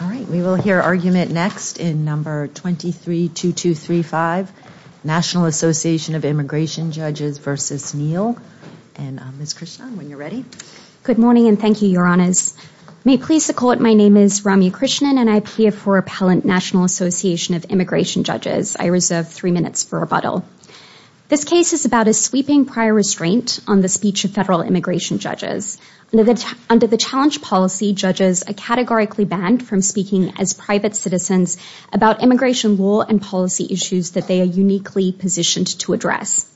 All right, we will hear argument next in number 23-2235, National Association of Immigration Judges v. Neal. And Ms. Krishnan, when you're ready. Good morning and thank you, Your Honors. May it please the Court, my name is Ramya Krishnan and I appear for Appellant National Association of Immigration Judges. I reserve three minutes for rebuttal. This case is about a sweeping prior restraint on the speech of federal immigration judges. Under the challenge policy, judges are categorically banned from speaking as private citizens about immigration law and policy issues that they are uniquely positioned to address.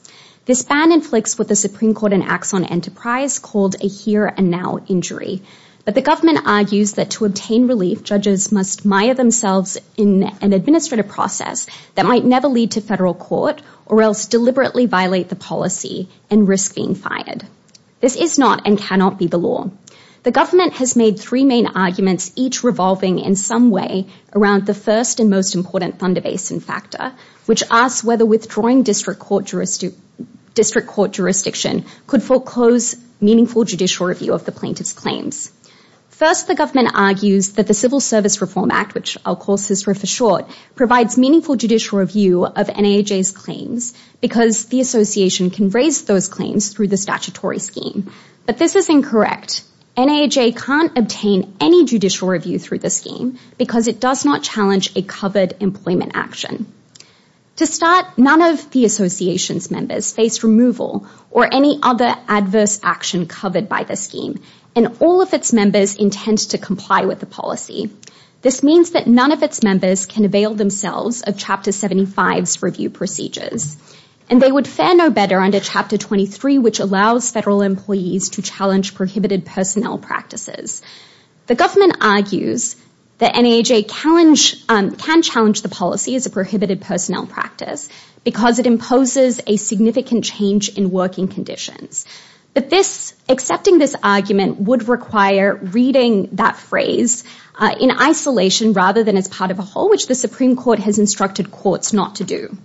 This ban inflicts what the Supreme Court in Axon Enterprise called a here and now injury. But the government argues that to obtain relief, judges must mire themselves in an administrative process that might never lead to federal court or else deliberately violate the policy and risk being fired. This is not and cannot be the law. The government has made three main arguments, each revolving in some way around the first and most important Thunder Basin factor, which asks whether withdrawing district court jurisdiction could foreclose meaningful judicial review of the plaintiff's claims. First, the government argues that the Civil Service Reform Act, which I'll call CISRA for short, provides meaningful judicial review of NAJ's claims because the association can raise those claims through the statutory scheme. But this is incorrect. NAJ can't obtain any judicial review through the scheme because it does not challenge a covered employment action. To start, none of the association's members face removal or any other adverse action covered by the scheme, and all of its members intend to comply with the policy. This means that none of its members can avail themselves of Chapter 75's review procedures, and they would fare no better under Chapter 23, which allows federal employees to challenge prohibited personnel practices. The government argues that NAJ can challenge the policy as a prohibited personnel practice because it imposes a significant change in working conditions. But accepting this argument would require reading that phrase in isolation rather than as part of a whole, which the Supreme Court has instructed courts not to do.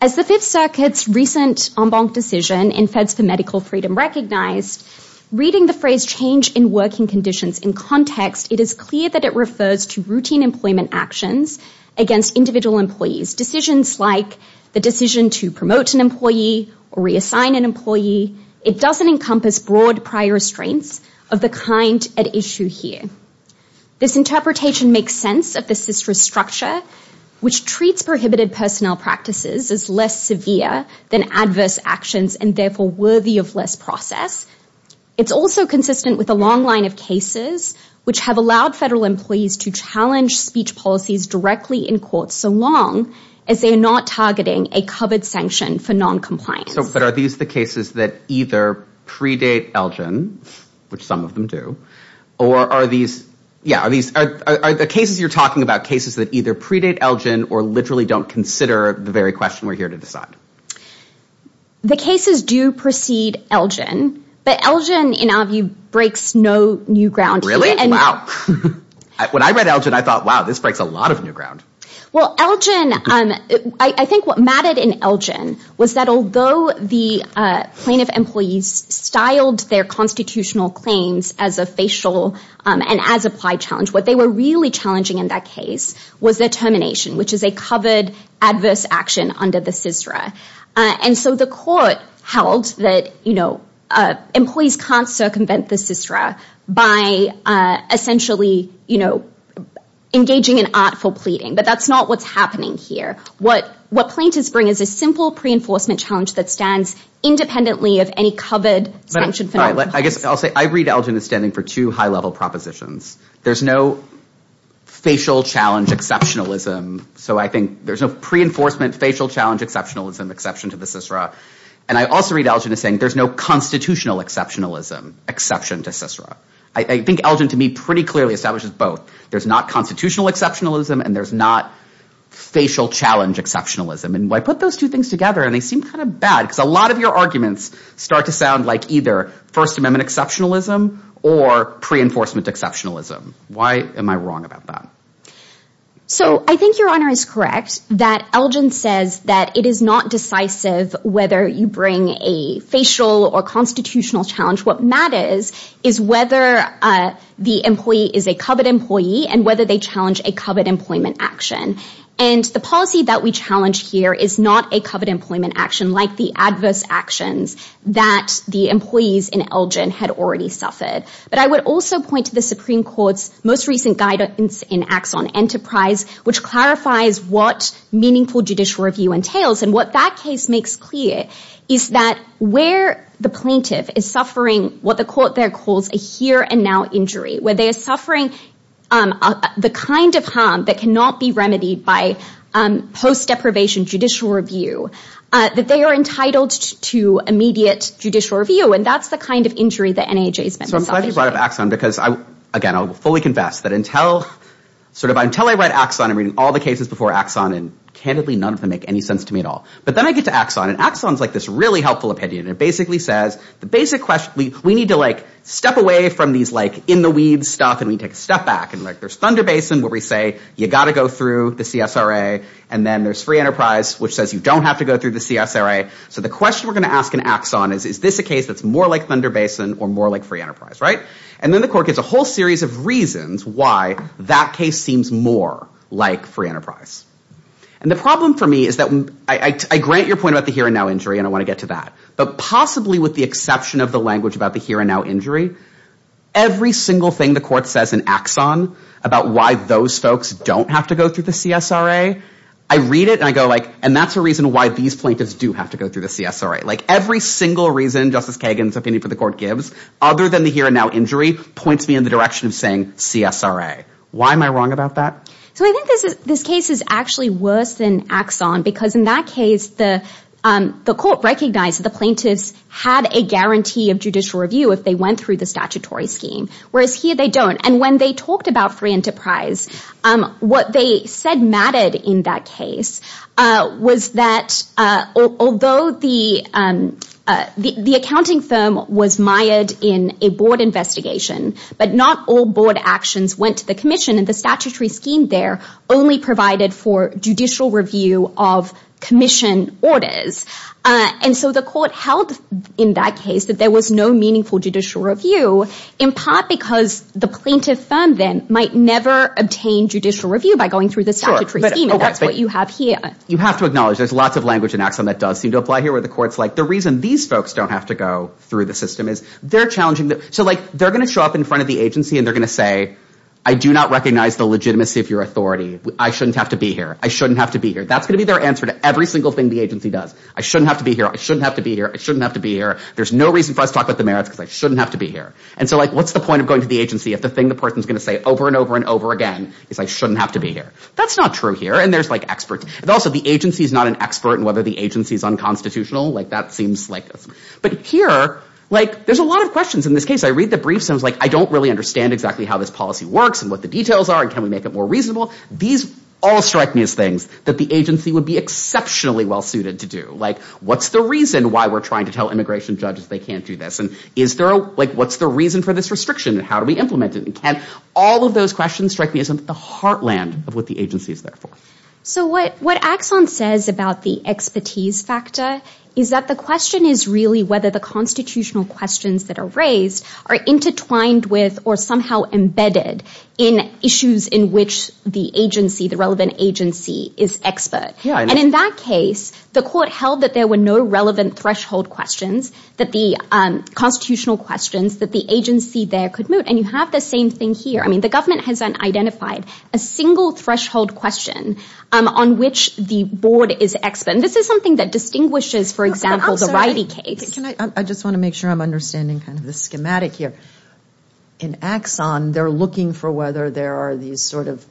As the Fifth Circuit's recent en banc decision in Feds for Medical Freedom recognized, reading the phrase change in working conditions in context, it is clear that it refers to routine employment actions against individual employees. Decisions like the decision to promote an employee or reassign an employee, it doesn't encompass broad prior restraints of the kind at issue here. This interpretation makes sense of the CISRA structure, which treats prohibited personnel practices as less severe than adverse actions and therefore worthy of less process. It's also consistent with a long line of cases which have allowed federal employees to challenge speech policies directly in court so long as they are not targeting a covered sanction for non-compliance. But are these the cases that either predate Elgin, which some of them do, or are these, yeah, are these, are the cases you're talking about cases that either predate Elgin or literally don't consider the very question we're here to decide? The cases do precede Elgin, but Elgin in our view breaks no new ground. Really? Wow. When I read Elgin, I thought, wow, this breaks a lot of new ground. Well, Elgin, I think what mattered in Elgin was that although the plaintiff employees styled their constitutional claims as a facial and as applied challenge, what they were really challenging in that case was their termination, which is a covered adverse action under the CISRA. And so the court held that, you know, employees can't circumvent the CISRA by essentially, you know, engaging in artful pleading, but that's not what's happening here. What, what plaintiffs bring is a simple pre-enforcement challenge that stands independently of any covered sanction for non-compliance. I guess I'll say, I read Elgin as standing for two high level propositions. There's no facial challenge exceptionalism. So I think there's no pre-enforcement facial challenge exceptionalism exception to the CISRA. And I also read Elgin as saying, there's no constitutional exceptionalism exception to CISRA. I think Elgin to me pretty clearly establishes both. There's not constitutional exceptionalism and there's not facial challenge exceptionalism. And I put those two things together and they seem kind of bad because a lot of your arguments start to sound like either first amendment exceptionalism or pre-enforcement exceptionalism. Why am I wrong about that? So I think your honor is correct that Elgin says that it is not decisive whether you bring a facial or constitutional challenge. What matters is whether the employee is a covered employee and whether they challenge a covered employment action. And the policy that we challenge here is not a covered employment action like the adverse actions that the employees in Elgin had already suffered. But I would also point to the Supreme Court's most recent guidance in acts on enterprise, which clarifies what meaningful judicial review entails. And what that case makes clear is that where the plaintiff is suffering, what the court there calls a here and now injury, where they are suffering the kind of harm that cannot be remedied by post deprivation judicial review, that they are entitled to immediate judicial review. And that's the kind of injury that NAJ has been. So I'm glad you brought up Axon because I, again, I will fully confess that until, sort of until I read Axon, I'm reading all the cases before Axon and candidly, none of them make any sense to me at all. But then I get to Axon and Axon's like this really helpful opinion. It basically says the basic question, we need to like step away from these, like in the weeds stuff. And we take a step back and like there's Thunder Basin where we say you got to go through the CSRA and then there's free enterprise, which says you don't have to go through the CSRA. So the question we're going to ask in Axon is, is this a case that's more like Thunder Basin or more like free enterprise? Right. And then the court gets a whole series of reasons why that case seems more like free enterprise. And the problem for me is that I grant your point about the here and now injury and I want to get to that, but possibly with the exception of the language about the here and now injury, every single thing the court says in Axon about why those folks don't have to go through the CSRA, I read it and I go like, and that's a reason why these plaintiffs do have to go through the CSRA. Like every single reason Justice Kagan's opinion for the court gives, other than the here and now injury, points me in the direction of saying CSRA. Why am I wrong about that? So I think this is, this case is actually worse than Axon because in that case the court recognized the plaintiffs had a guarantee of judicial review if they went through the statutory scheme, whereas here they don't. And when they talked about free enterprise, what they said mattered in that case was that although the accounting firm was mired in a board investigation, but not all board actions went to the commission and the statutory scheme there only provided for judicial review of commission orders. And so the court held in that case that there was no meaningful judicial review in part because the plaintiff firm then never obtained judicial review by going through the statutory scheme and that's what you have here. You have to acknowledge there's lots of language in Axon that does seem to apply here where the court's like, the reason these folks don't have to go through the system is they're challenging them. So like they're going to show up in front of the agency and they're going to say, I do not recognize the legitimacy of your authority. I shouldn't have to be here. I shouldn't have to be here. That's going to be their answer to every single thing the agency does. I shouldn't have to be here. I shouldn't have to be here. I shouldn't have to be here. There's no reason for us to talk about the merits because I shouldn't have to be here. And so like, what's the point of going to the agency if the thing the person's going to say over and over and over again is I shouldn't have to be here. That's not true here. And there's like experts. And also the agency is not an expert and whether the agency is unconstitutional, like that seems like this. But here, like there's a lot of questions in this case. I read the briefs and I was like, I don't really understand exactly how this policy works and what the details are and can we make it more reasonable? These all strike me as things that the agency would be exceptionally well-suited to do. Like what's the reason why we're trying to tell immigration judges they can't do this? And is there like, what's the reason for this restriction and how those questions strike me as in the heartland of what the agency is there for? So what Axon says about the expertise factor is that the question is really whether the constitutional questions that are raised are intertwined with or somehow embedded in issues in which the agency, the relevant agency is expert. And in that case, the court held that there were no relevant threshold questions that the constitutional questions that the agency there and you have the same thing here. I mean, the government hasn't identified a single threshold question on which the board is expert. And this is something that distinguishes, for example, the righty case. I just want to make sure I'm understanding kind of the schematic here. In Axon, they're looking for whether there are these sort of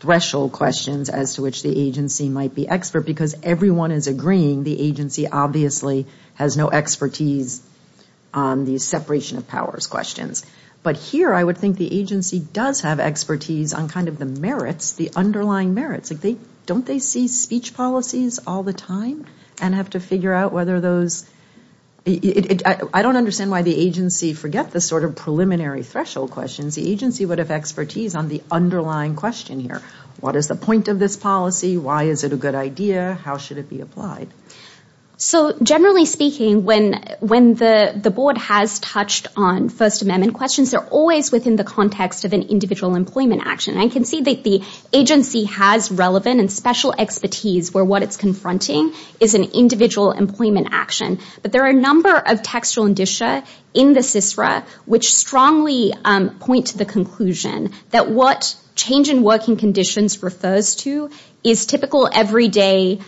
threshold questions as to which the agency might be expert because everyone is agreeing the agency obviously has no expertise on these separation of powers questions. But here I would think the agency does have expertise on kind of the merits, the underlying merits. Don't they see speech policies all the time and have to figure out whether those? I don't understand why the agency forget the sort of preliminary threshold questions. The agency would have expertise on the underlying question here. What is the point of this policy? Why is it a good idea? How should it be applied? So generally speaking, when the board has touched on First Amendment questions, they're always within the context of an individual employment action. I can see that the agency has relevant and special expertise where what it's confronting is an individual employment action. But there are a number of textual indicia in the CISRA which strongly point to the conclusion that what change in working conditions refers to is typical everyday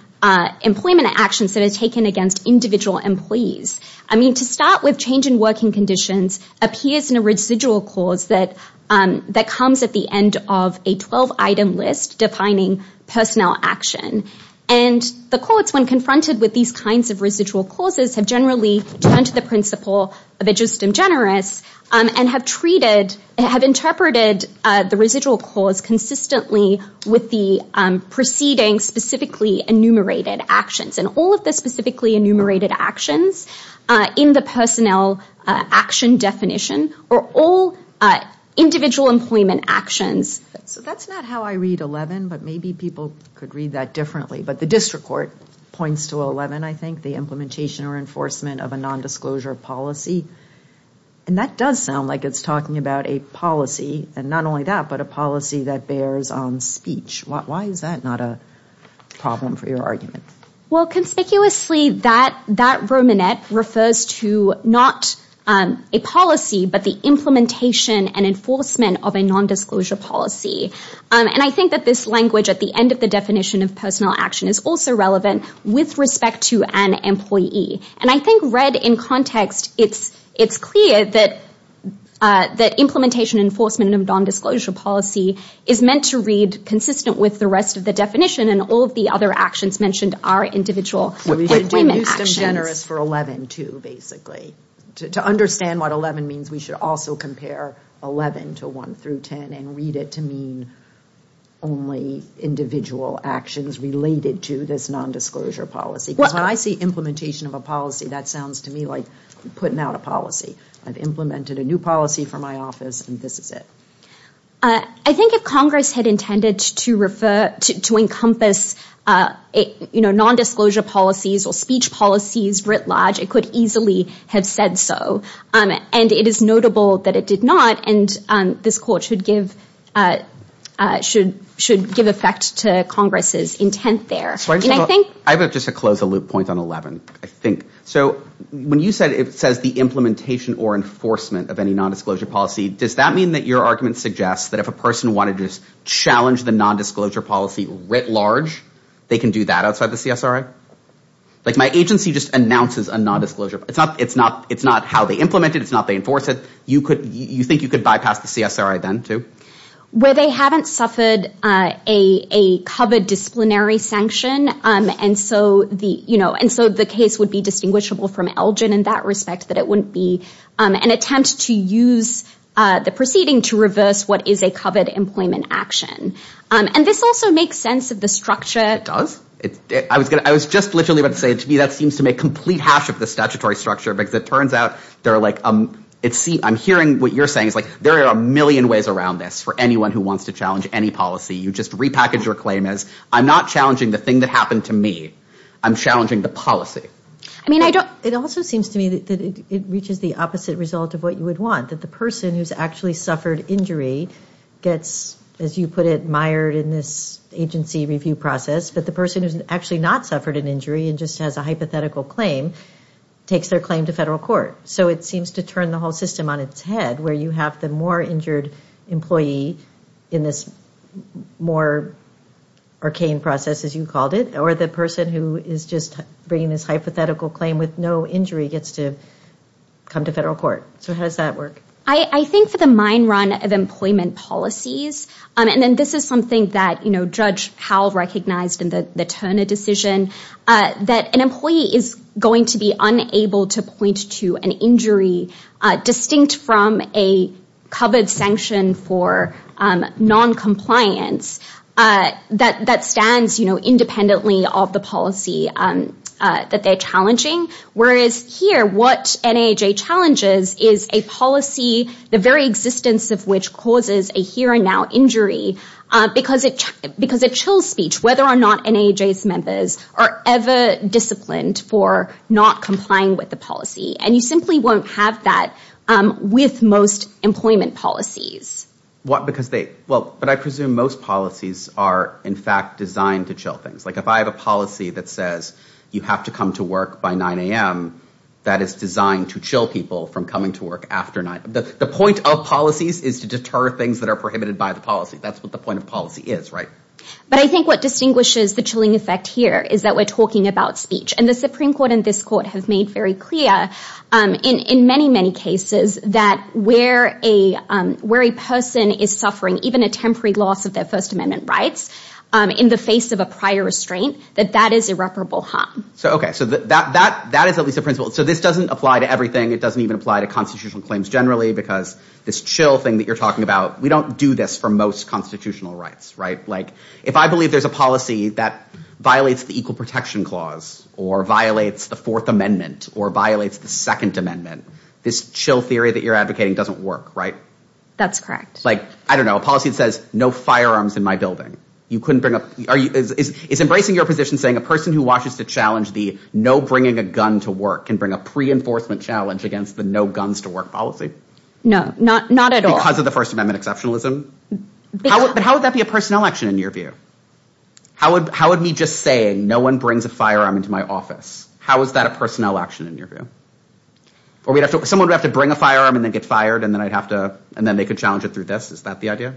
employment actions that are taken against individual employees. I mean, to start with change in working conditions appears in a residual cause that comes at the end of a 12-item list defining personnel action. And the courts, when confronted with these kinds of residual causes, have generally turned to the principle of a just and generous and have treated, have interpreted the residual cause consistently with the preceding specifically enumerated actions. And all of the specifically enumerated actions in the personnel action definition are all individual employment actions. So that's not how I read 11, but maybe people could read that differently. But the district points to 11, I think, the implementation or enforcement of a nondisclosure policy. And that does sound like it's talking about a policy, and not only that, but a policy that bears on speech. Why is that not a problem for your argument? Well, conspicuously, that brominette refers to not a policy, but the implementation and enforcement of a nondisclosure policy. And I think that this language at the end of the definition of personnel action is also relevant with respect to an employee. And I think read in context, it's clear that implementation and enforcement of nondisclosure policy is meant to read consistent with the rest of the definition. And all of the other actions mentioned are individual employment actions. We should use just and generous for 11, too, basically. To understand what 11 means, we should also compare 11 to 1 through 10 and read it to mean only individual actions related to this nondisclosure policy. When I see implementation of a policy, that sounds to me like putting out a policy. I've implemented a new policy for my office, and this is it. I think if Congress had intended to refer to encompass nondisclosure policies or speech policies writ large, it could easily have said so. And it is notable that it did not. And this quote should give effect to Congress's intent there. I have just to close a loop point on 11, I think. So when you said it says the implementation or enforcement of any nondisclosure policy, does that mean that your argument suggests that if a person wanted to challenge the nondisclosure policy writ large, they can do that outside the CSRA? Like my agency just announces a nondisclosure. It's not how they implement it. You think you could bypass the CSRA then too? Where they haven't suffered a covered disciplinary sanction. And so the case would be distinguishable from Elgin in that respect, that it wouldn't be an attempt to use the proceeding to reverse what is a covered employment action. And this also makes sense of the structure. It does. I was just literally about to say to me that seems to make complete hash of the statutory structure because it turns out they're like, I'm hearing what you're saying. There are a million ways around this for anyone who wants to challenge any policy. You just repackage your claim as, I'm not challenging the thing that happened to me. I'm challenging the policy. It also seems to me that it reaches the opposite result of what you would want. That the person who's actually suffered injury gets, as you put it, mired in this agency review process. But the person who's actually not suffered an injury and just has a hypothetical claim, takes their claim to federal court. So it seems to turn the whole system on its head where you have the more injured employee in this more arcane process, as you called it. Or the person who is just bringing this hypothetical claim with no injury gets to come to federal court. So how does that work? I think for the mine run of employment policies, and then this is something that Judge Howell recognized in the Turner decision, that an employee is going to be unable to point to an injury distinct from a covered sanction for non-compliance that stands independently of the policy that they're challenging. Whereas here, what NAAJ challenges is a policy, the very existence of which causes a here and now injury, because it chills speech whether or not NAAJ's members are ever disciplined for not complying with the policy. And you simply won't have that with most employment policies. What, because they, well, but I presume most policies are, in fact, designed to chill things. If I have a policy that says you have to come to work by 9 a.m., that is designed to chill people from coming to work after 9 a.m. The point of policies is to deter things that are prohibited by the policy. That's what the point of policy is, right? But I think what distinguishes the chilling effect here is that we're talking about speech. And the Supreme Court and this court have made very clear in many, many cases that where a person is suffering even a temporary loss of their First Amendment rights in the face of a prior restraint, that that is irreparable harm. So, okay, so that is at least a principle. So this doesn't apply to everything. It doesn't even apply to constitutional claims generally, because this chill thing that you're talking about, we don't do this for most constitutional rights, right? Like if I believe there's a policy that violates the Equal Protection Clause or violates the Fourth Amendment or violates the Second Amendment, this chill theory that you're advocating doesn't work, right? That's correct. Like, I don't know, a policy that says no firearms in my building. You couldn't bring up, are you, is embracing your position saying a person who watches to challenge the no bringing a gun to work can bring a pre-enforcement challenge against the no guns to work policy? No, not at all. Because of the First Amendment exceptionalism? But how would that be a personnel action in your view? How would me just saying no one brings a firearm into my office, how is that a personnel action in your view? Or someone would have to bring a firearm and then get fired and then I'd make a challenge through this, is that the idea?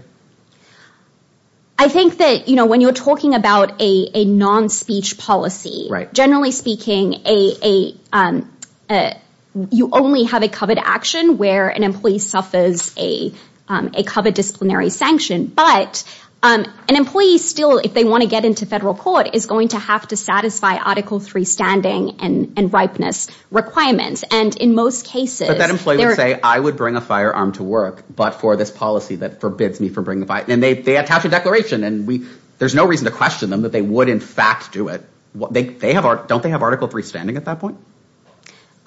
I think that when you're talking about a non-speech policy, generally speaking, you only have a covered action where an employee suffers a covered disciplinary sanction. But an employee still, if they want to get into federal court, is going to have to satisfy Article III standing and ripeness requirements. And in most cases- I would bring a firearm to work, but for this policy that forbids me from bringing a firearm. And they attach a declaration and there's no reason to question them that they would in fact do it. Don't they have Article III standing at that point?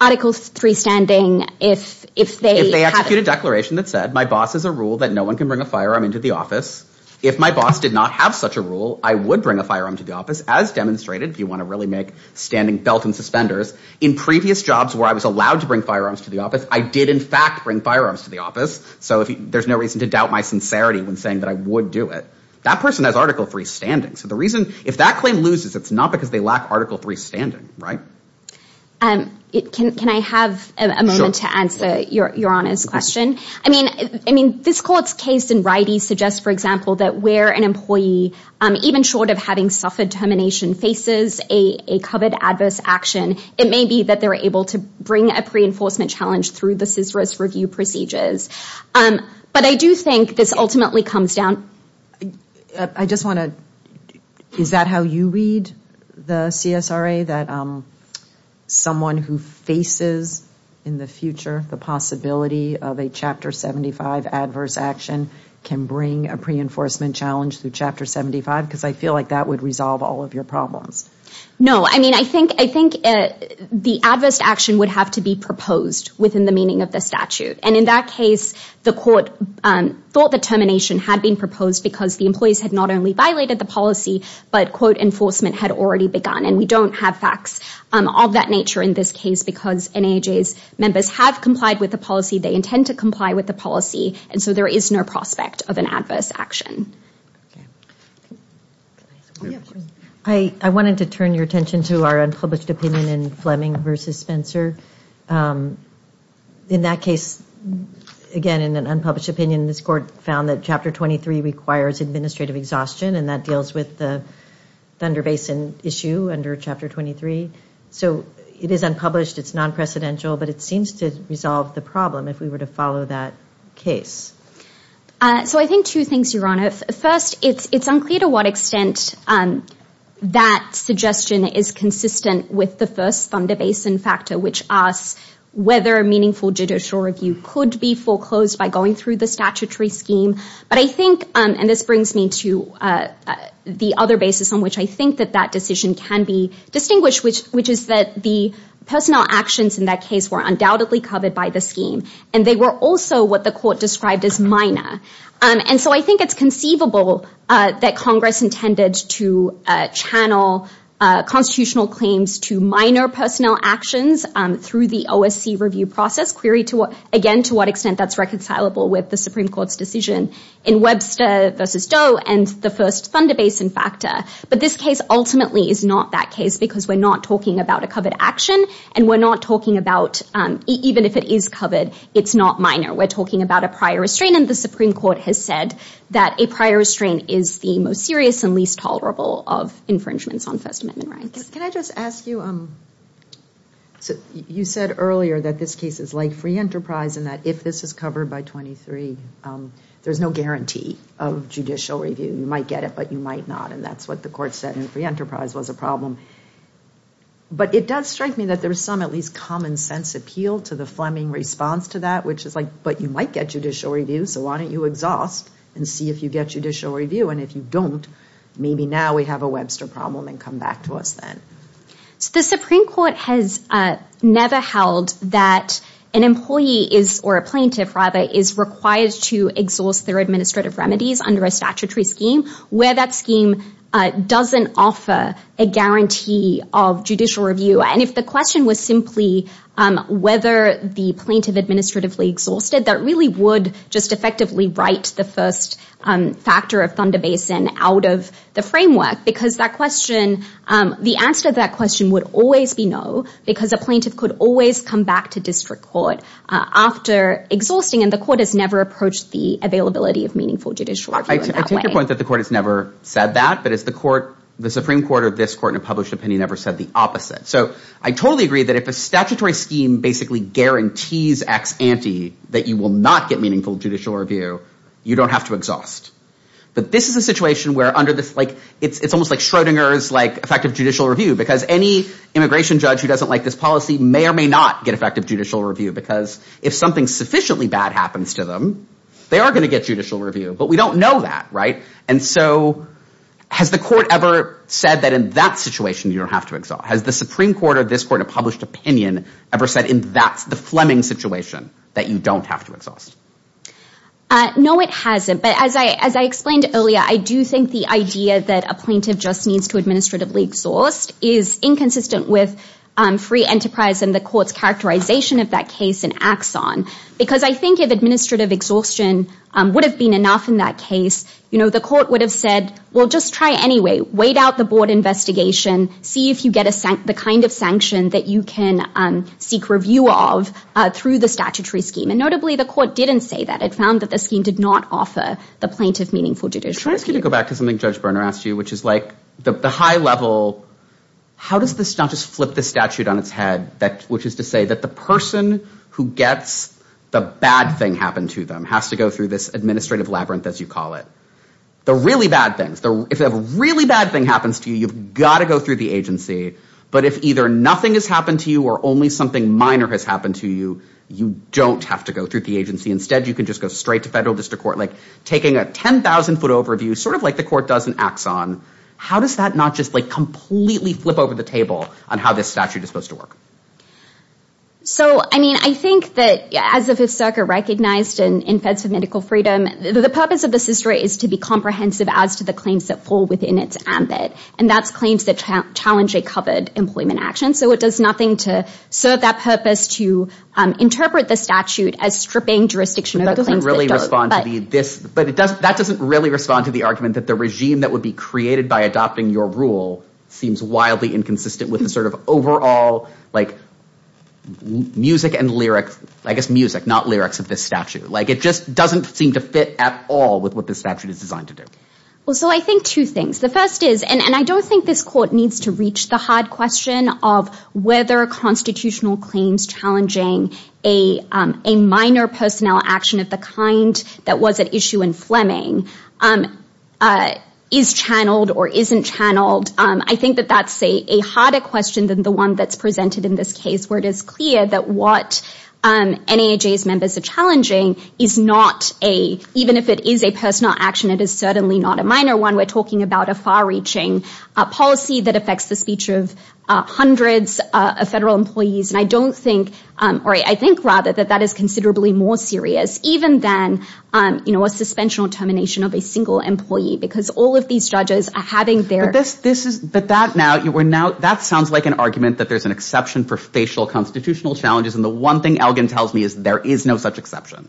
Article III standing if they- If they execute a declaration that said, my boss has a rule that no one can bring a firearm into the office. If my boss did not have such a rule, I would bring a firearm to the office, as demonstrated if you want to really make standing belt and suspenders. In previous jobs where I was allowed to bring firearms to the office, I did in fact bring firearms to the office. So there's no reason to doubt my sincerity when saying that I would do it. That person has Article III standing. So the reason, if that claim loses, it's not because they lack Article III standing, right? Can I have a moment to answer your Honor's question? I mean, this court's case in Wrighty suggests, for example, that where an employee, even short of having suffered termination, faces a covered adverse action, it may be that they're able to bring a pre-enforcement challenge through the CSRS review procedures. But I do think this ultimately comes down- I just want to- Is that how you read the CSRA? That someone who faces in the future, the possibility of a Chapter 75 adverse action can bring a pre-enforcement challenge through Chapter 75? Because I feel like that would resolve all of your problems. No. I mean, I think the adverse action would have to be proposed within the meaning of the statute. And in that case, the court thought that termination had been proposed because the employees had not only violated the policy, but, quote, enforcement had already begun. And we don't have facts of that nature in this case because NAJ's members have complied with the policy. They intend to comply with the policy. And so there is no prospect of an adverse action. Can I ask a question? I wanted to turn your attention to our unpublished opinion in Fleming v. Spencer. In that case, again, in an unpublished opinion, this court found that Chapter 23 requires administrative exhaustion, and that deals with the Thunder Basin issue under Chapter 23. So it is unpublished. It's non-precedential. But it seems to resolve the problem if we were to follow that case. So I think two things, Your Honor. First, it's unclear to what extent that suggestion is consistent with the first Thunder Basin factor, which asks whether a meaningful judicial review could be foreclosed by going through the statutory scheme. But I think, and this brings me to the other basis on which I think that that decision can be distinguished, which is that the personnel actions in that case were undoubtedly covered by the scheme. And they were also what the court described as minor. And so I think it's conceivable that Congress intended to channel constitutional claims to minor personnel actions through the OSC review process, queried again to what extent that's reconcilable with the Supreme Court's decision in Webster v. Doe and the first Thunder Basin factor. But this case ultimately is not that case because we're not talking about a covered action. And we're not talking about, even if it is covered, it's not minor. We're talking about a prior restraint. And the Supreme Court has said that a prior restraint is the most serious and least tolerable of infringements on First Amendment rights. Can I just ask you, you said earlier that this case is like free enterprise and that if this is covered by 23, there's no guarantee of judicial review. You might get it, but you might not. And that's what the court said in free enterprise was a problem. But it does strike me that there's some at least common sense appeal to the Fleming response to that, which is like, but you might get judicial review, so why don't you exhaust and see if you get judicial review? And if you don't, maybe now we have a Webster problem and come back to us then. So the Supreme Court has never held that an employee is, or a plaintiff rather, is required to exhaust their administrative remedies under a statutory scheme where that scheme doesn't offer a guarantee of judicial review. And if the question was simply whether the plaintiff administratively exhausted, that really would just effectively write the first factor of Thunder Basin out of the framework, because that question, the answer to that question would always be no, because a plaintiff could always come back to district court after exhausting, and the court has never approached the availability of meaningful judicial review in that way. I take your point that the court has never said that, but it's the court, the Supreme Court or this court in a published opinion never said the opposite. So I totally agree that if a statutory scheme basically guarantees ex ante that you will not get meaningful judicial review, you don't have to exhaust. But this is a situation where under this, it's almost like Schrodinger's effective judicial review, because any immigration judge who doesn't like this policy may or may not get effective judicial review, because if something sufficiently bad happens to them, they are going to get judicial review. But we don't know that, right? And so has the court ever said that in that situation, you don't have to exhaust? Has the Supreme Court or this court in a published opinion ever said in that, the Fleming situation, that you don't have to exhaust? No, it hasn't. But as I explained earlier, I do think the idea that a plaintiff just needs to administratively exhaust is inconsistent with free enterprise and the court's characterization of that case in Axon, because I think if administrative exhaustion would have been enough in that case, you know, the court would have said, well, just try anyway, wait out the board investigation, see if you get the kind of sanction that you can seek review of through the statutory scheme. And notably, the court didn't say that. It found that the scheme did not offer the plaintiff meaningful judicial review. Can I ask you to go back to something Judge Berner asked you, which is like the high level, how does this not just flip the statute on its head, which is to say that the person who gets the bad thing happen to them has to go through this administrative labyrinth, as you call it. The really bad things, if a really bad thing happens to you, you've got to go through the agency. But if either nothing has happened to you or only something minor has happened to you, you don't have to go through the agency. Instead, you can just go straight to federal district court, like taking a 10,000 foot overview, sort of like the court does in Axon. How does that not just like completely flip over the table on how this statute is supposed to work? So, I mean, I think that as if Hisoka recognized in Feds for Medical Freedom, the purpose of this history is to be comprehensive as to the claims that fall within its ambit. And that's claims that challenge a covered employment action. So it does nothing to serve that purpose to interpret the statute as stripping jurisdiction. But it doesn't really respond to this. But that doesn't really respond to the argument that the regime that would be created by adopting your rule seems wildly inconsistent with the sort of overall like music and lyrics, I guess music, not lyrics of this statute. Like it just doesn't seem to fit at all with what this statute is designed to do. Well, so I think two things. The first is, and I don't think this court needs to reach the hard question of whether constitutional claims challenging a minor personnel action of the kind that was at issue in Fleming is channeled or isn't channeled. I think that that's a harder question than the one that's presented in this case, where it is clear that what NAHA's members are challenging is not a, even if it is a personal action, it is certainly not a minor one. We're talking about a far-reaching policy that affects the speech of hundreds of federal employees. And I don't think, or I think rather that that is considerably more serious even than, you know, a suspension or termination of a single employee, because all of these judges are having their... But that now, that sounds like an argument that there's an exception for facial constitutional challenges. And the one thing Elgin tells me is there is no such exception.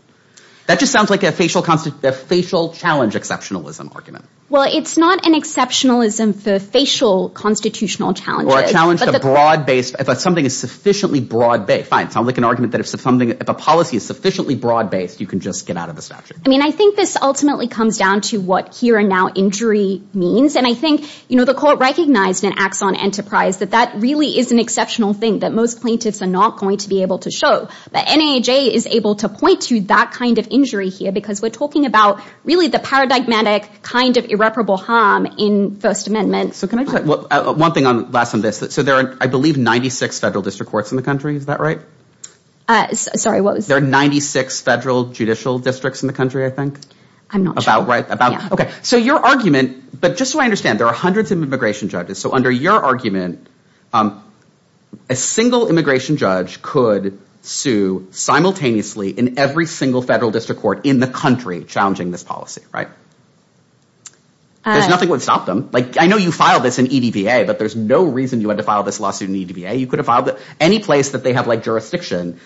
That just sounds like a facial challenge exceptionalism argument. Well, it's not an exceptionalism for facial constitutional challenges... Or a challenge to broad-based, if something is sufficiently broad-based. Fine, it sounds like an argument that if a policy is sufficiently broad-based, you can just get out of the statute. I mean, I think this ultimately comes down to what here and now injury means. And I think, you know, the court recognized in Axon Enterprise that that really is an exceptional thing that most plaintiffs are not going to be able to show. But NAHA is able to point to that kind of injury here, because we're talking about really the paradigmatic kind of irreparable harm in First Amendment. So can I just... One thing on, last on this. So there are, I believe, 96 federal district courts in the judicial districts in the country, I think. I'm not sure. Okay. So your argument, but just so I understand, there are hundreds of immigration judges. So under your argument, a single immigration judge could sue simultaneously in every single federal district court in the country challenging this policy, right? There's nothing that would stop them. Like I know you filed this in EDVA, but there's no reason you had to file this lawsuit in EDVA. You could have filed it any place that they have like jurisdiction.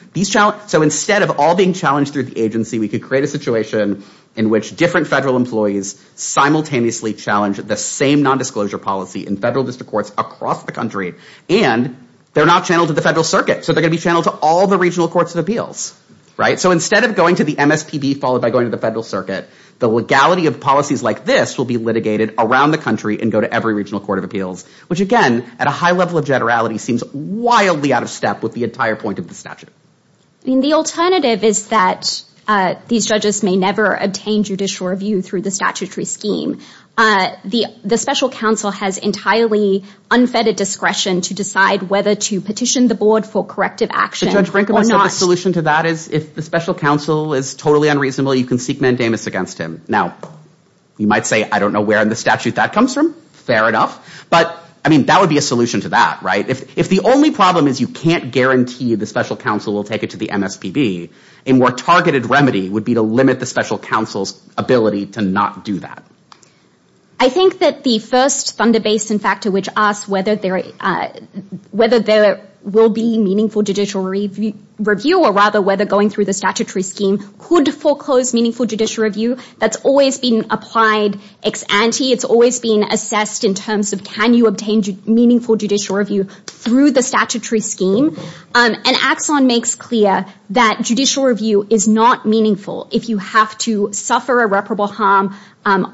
So instead of all being challenged through the agency, we could create a situation in which different federal employees simultaneously challenge the same nondisclosure policy in federal district courts across the country, and they're not channeled to the federal circuit. So they're going to be channeled to all the regional courts of appeals, right? So instead of going to the MSPB followed by going to the federal circuit, the legality of policies like this will be litigated around the country and go to every regional court of appeals, which again, at a high level of generality, seems wildly out of step with the entire point of the statute. The alternative is that these judges may never obtain judicial review through the statutory scheme. The special counsel has entirely unfettered discretion to decide whether to petition the board for corrective action or not. The solution to that is if the special counsel is totally unreasonable, you can seek mandamus against him. Now, you might say, I don't know where in the statute that comes from. Fair enough. But I mean, that would be a solution to that, right? If the only problem is you can't guarantee the special counsel will take it to the MSPB, a more targeted remedy would be to limit the special counsel's ability to not do that. I think that the first thunder basin factor which asks whether there will be meaningful judicial review, or rather whether going through the statutory scheme could foreclose meaningful judicial review, that's always been applied ex ante. It's always been assessed in terms of can obtain meaningful judicial review through the statutory scheme. And Axon makes clear that judicial review is not meaningful if you have to suffer irreparable harm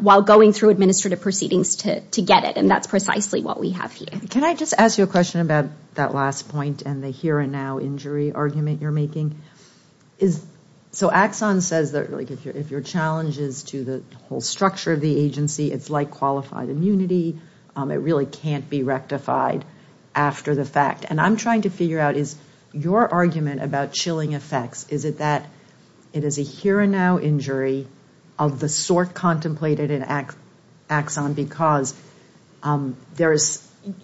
while going through administrative proceedings to get it. And that's precisely what we have here. Can I just ask you a question about that last point and the here and now injury argument you're making? So Axon says that if your challenge is to the whole structure of the agency, it's like immunity. It really can't be rectified after the fact. And I'm trying to figure out is your argument about chilling effects, is it that it is a here and now injury of the sort contemplated in Axon because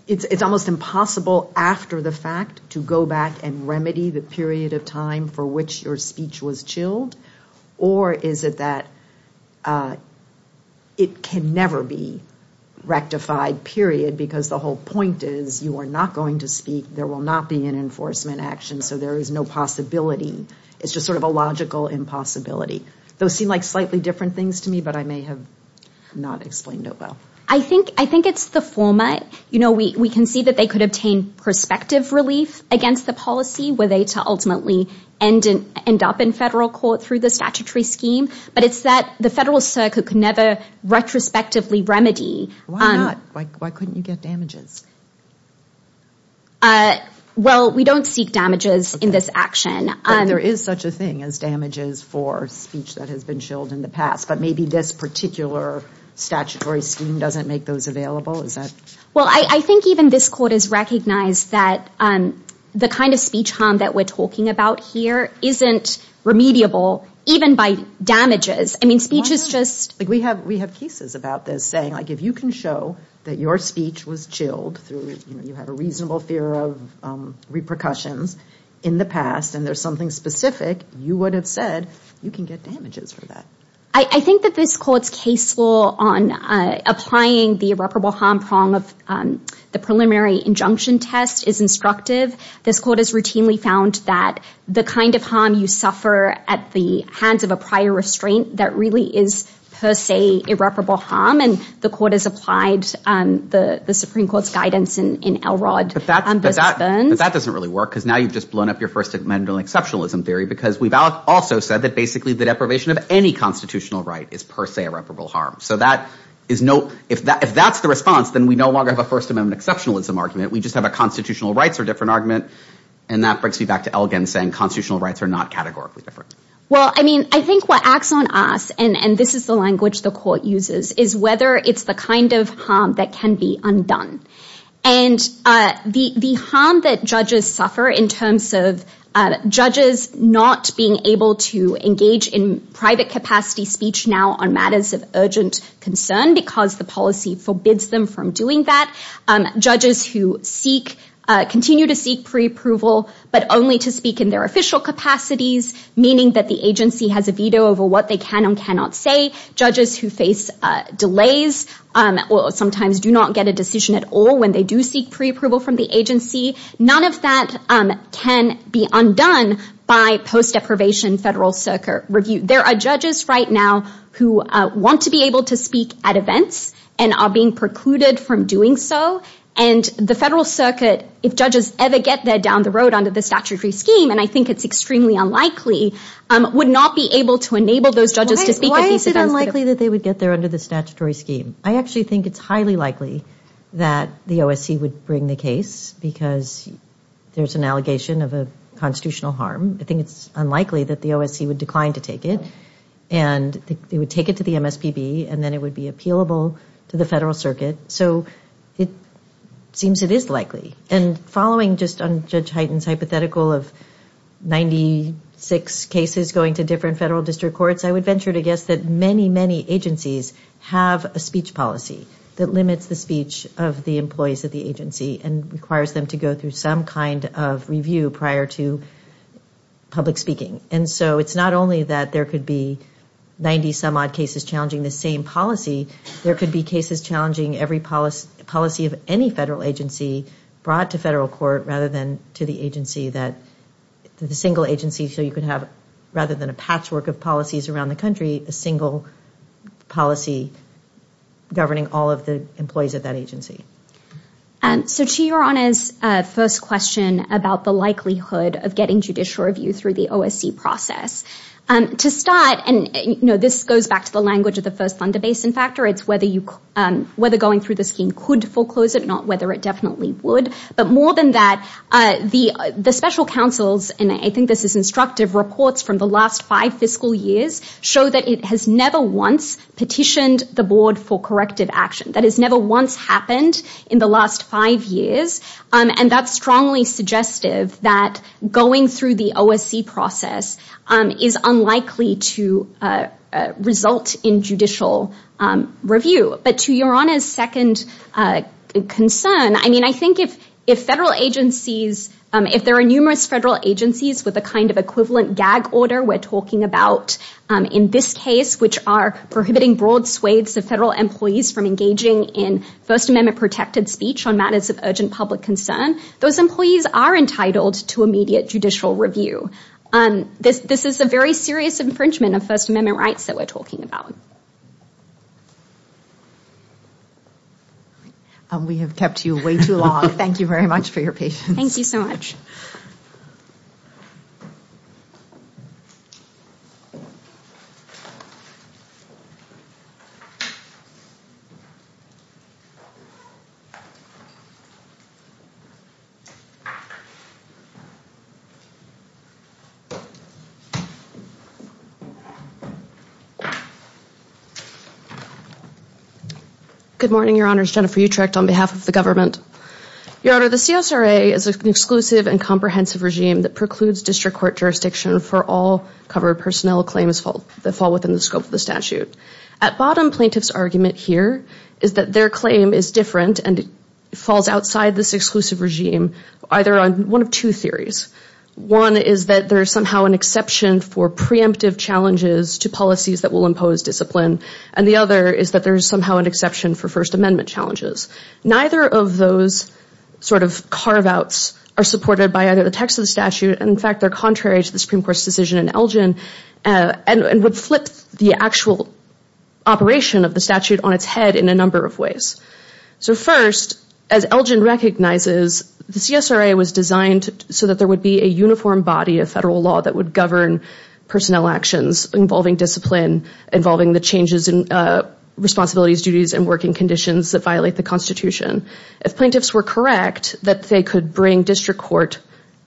it's almost impossible after the fact to go back and remedy the period of time for which your speech was chilled? Or is it that it can never be rectified, period, because the whole point is you are not going to speak, there will not be an enforcement action, so there is no possibility. It's just sort of a logical impossibility. Those seem like slightly different things to me, but I may have not explained it well. I think it's the format. We can see that they could obtain prospective relief against the policy were they to ultimately end up in federal court through the statutory scheme, but it's that the federal circuit could never retrospectively remedy. Why not? Why couldn't you get damages? Well, we don't seek damages in this action. There is such a thing as damages for speech that has been chilled in the past, but maybe this particular statutory scheme doesn't make those available. Well, I think even this court has recognized that the kind of speech harm that we're talking about here isn't remediable even by damages. I mean, speech is just... We have cases about this saying, like, if you can show that your speech was chilled, you have a reasonable fear of repercussions in the past, and there's something specific you would have said, you can get damages for that. I think that this court's case law on applying the irreparable harm prong of the preliminary injunction test is instructive. This court has routinely found that the kind of harm you suffer at the hands of a prior restraint that really is, per se, irreparable harm, and the court has applied the Supreme Court's guidance in Elrod versus Burns. But that doesn't really work, because now you've just blown up your first amendment on exceptionalism theory, because we've also said that, basically, the deprivation of any constitutional right is, per se, irreparable harm. So if that's the response, then we no longer have a first amendment exceptionalism argument. We just have a constitutional rights are different argument, and that brings me back to Elgin saying constitutional rights are not categorically different. Well, I mean, I think what acts on us, and this is the language the court uses, is whether it's the kind of harm that can be undone. And the harm that judges suffer in terms of judges not being able to engage in private capacity speech now on matters of urgent concern, because the policy forbids them from doing that. Judges who seek, continue to seek pre-approval, but only to speak in their official capacities, meaning that the agency has a veto over what they can and cannot say. Judges who face delays, or sometimes do not get a decision at all when they do seek pre-approval from the agency, none of that can be undone by post deprivation federal circuit review. There are judges right now who want to be able to speak at events and are being precluded from doing so, and the federal circuit, if judges ever get there down the road under the statutory scheme, and I think it's extremely unlikely, would not be able to enable those judges to speak at these events. Why is it unlikely that they would get there under the statutory scheme? I actually think it's highly likely that the OSC would bring the case because there's an allegation of a constitutional harm. I think it's unlikely that the OSC would decline to take it, and they would take it to the MSPB, and then it would be appealable to the federal circuit. So it seems it is likely. And following just on Judge Hyten's hypothetical of 96 cases going to different federal district courts, I would venture to guess that many, many agencies have a speech policy that limits the speech of the employees at the agency and requires them to go through some kind of review prior to public speaking. And so it's not only that there could be 90 some odd cases challenging the same policy, there could be cases challenging every policy of any federal agency brought to federal court rather than to the agency that the single agency, so you could have rather than a patchwork of policies around the country, a single policy governing all of the employees of that agency. So to your honors, first question about the likelihood of getting judicial review through the OSC process. To start, and this goes back to the language of the first Thunder Basin factor, it's whether going through the scheme could foreclose it, not whether it definitely would. But more than that, the special counsels, and I think this is instructive, reports from the last five fiscal years show that it has never once petitioned the board for corrective action. That has never once happened in the last five years. And that's strongly suggestive that going through the OSC process is unlikely to result in judicial review. But to your honors' second concern, I mean, I think if federal agencies, if there are numerous federal agencies with a kind of equivalent gag order we're talking about in this case, which are prohibiting broad swathes of federal employees from engaging in First Amendment protected speech on matters of urgent public concern, those employees are entitled to immediate judicial review. This is a very serious infringement of First Amendment rights that we're talking about. And we have kept you way too long. Thank you very much for your patience. Thank you so much. Good morning, your honors. Jennifer Utrecht on behalf of the government. Your honor, the CSRA is an exclusive and comprehensive regime that precludes district court jurisdiction for all covered personnel claims that fall within the scope of the statute. At bottom, plaintiff's argument here is that their claim is different and it falls outside this exclusive regime either on one of two theories. One is that there is somehow an exception for preemptive challenges to policies that will impose discipline. And the other is that there is somehow an exception for First Amendment challenges. Neither of those sort of carve outs are supported by either the text of the statute. And in fact, they're contrary to the Supreme Court's decision in Elgin and would flip the actual operation of the statute on its head in a number of ways. So first, as Elgin recognizes, the CSRA was designed so that there would be a uniform body of federal law that would govern personnel actions involving discipline, involving the changes in responsibilities, duties, and working conditions that violate the Constitution. If plaintiffs were correct that they could bring district court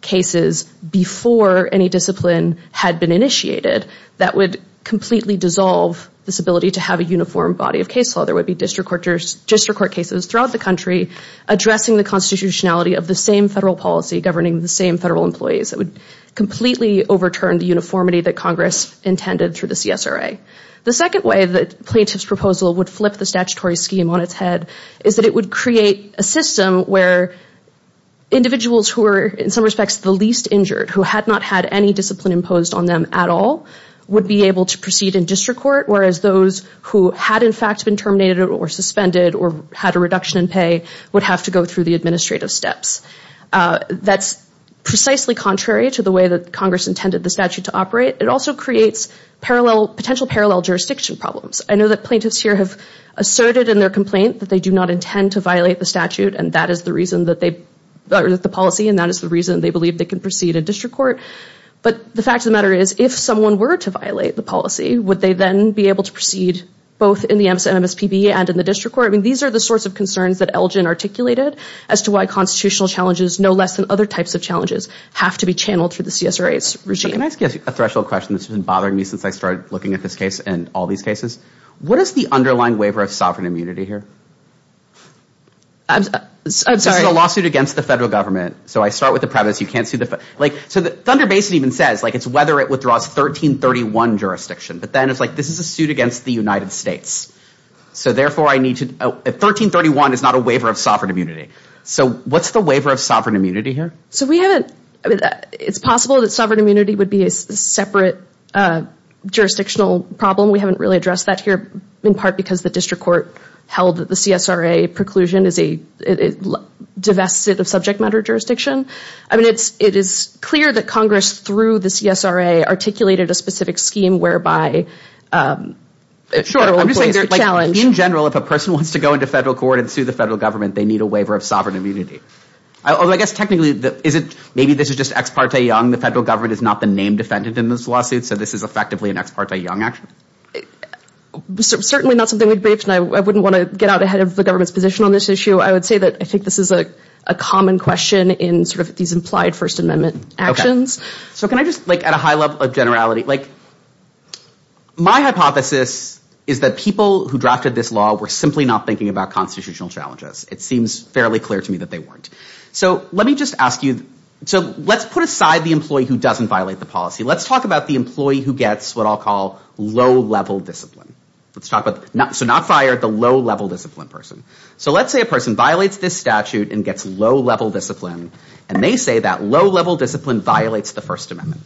cases before any discipline had been initiated, that would completely dissolve this ability to have a uniform body of case law. There would be district court cases throughout the country addressing the constitutionality of the same federal policy governing the same federal employees. It would completely overturn the uniformity that Congress intended through the CSRA. The second way that plaintiff's proposal would flip the statutory scheme on its head is that it would create a system where individuals who are, in some respects, the least injured, who had not had any discipline imposed on them at all, would be able to proceed in district court, whereas those who had, in fact, been terminated or suspended or had a reduction in pay would have to go through the administrative steps. That's precisely contrary to the way that Congress intended the statute to operate. It also creates parallel, potential parallel jurisdiction problems. I know that plaintiffs here have asserted in their complaint that they do not intend to violate the statute and that is the reason that they, or the policy, and that is the reason they believe they can proceed in district court. But the fact of the matter is, if someone were to violate the policy, would they then be able to proceed both in the MSPB and in the district court? I mean, these are the sorts of concerns that Elgin articulated as to why constitutional challenges, no less than other types of challenges, have to be channeled through the CSRA's regime. Can I ask you a threshold question that's been bothering me since I started looking at this case and all these cases? What is the underlying waiver of sovereign immunity here? I'm sorry. This is a lawsuit against the federal government. So I start with the premise you can't see the, like, so the Thunder Basin even says, like, it's whether it withdraws 1331 jurisdiction, but then it's like this is a suit against the United States. So therefore I 1331 is not a waiver of sovereign immunity. So what's the waiver of sovereign immunity here? So we haven't, I mean, it's possible that sovereign immunity would be a separate jurisdictional problem. We haven't really addressed that here, in part, because the district court held that the CSRA preclusion is a divested of subject matter jurisdiction. I mean, it's, it is clear that Congress, through the CSRA, articulated a specific scheme whereby federal employees are challenged. Sure. I'm just saying, like, in general, if a person wants to go into federal court and sue the federal government, they need a waiver of sovereign immunity. Although I guess technically, is it, maybe this is just ex parte young. The federal government is not the name defendant in this lawsuit. So this is effectively an ex parte young action. Certainly not something we'd briefed, and I wouldn't want to get out ahead of the government's position on this issue. I would say that I think this is a common question in, sort of, these implied First Amendment actions. So can I just, like, at a high level of generality, like, my hypothesis is that people who drafted this law were simply not thinking about constitutional challenges. It seems fairly clear to me that they weren't. So let me just ask you, so let's put aside the employee who doesn't violate the policy. Let's talk about the employee who gets what I'll call low-level discipline. Let's talk about, so not fired, the low-level discipline person. So let's say a person violates this statute and gets low-level discipline, and they say that low-level discipline violates the First Amendment.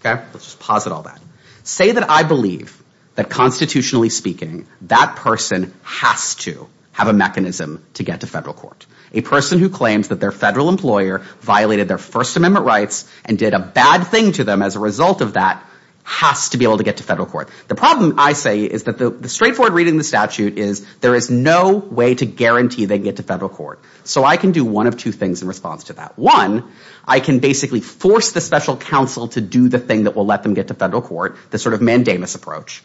Okay? Let's just posit all that. Say that I believe that constitutionally speaking, that person has to have a mechanism to get to federal court. A person who claims that their federal employer violated their First Amendment rights and did a bad thing to them as a result of that has to be able to get to federal court. The problem, I say, is that the straightforward reading of the statute is there is no way to guarantee they can get to federal court. So I can do one of two things in response to that. One, I can basically force the special counsel to do the thing that will let them get to federal court, the sort of mandamus approach.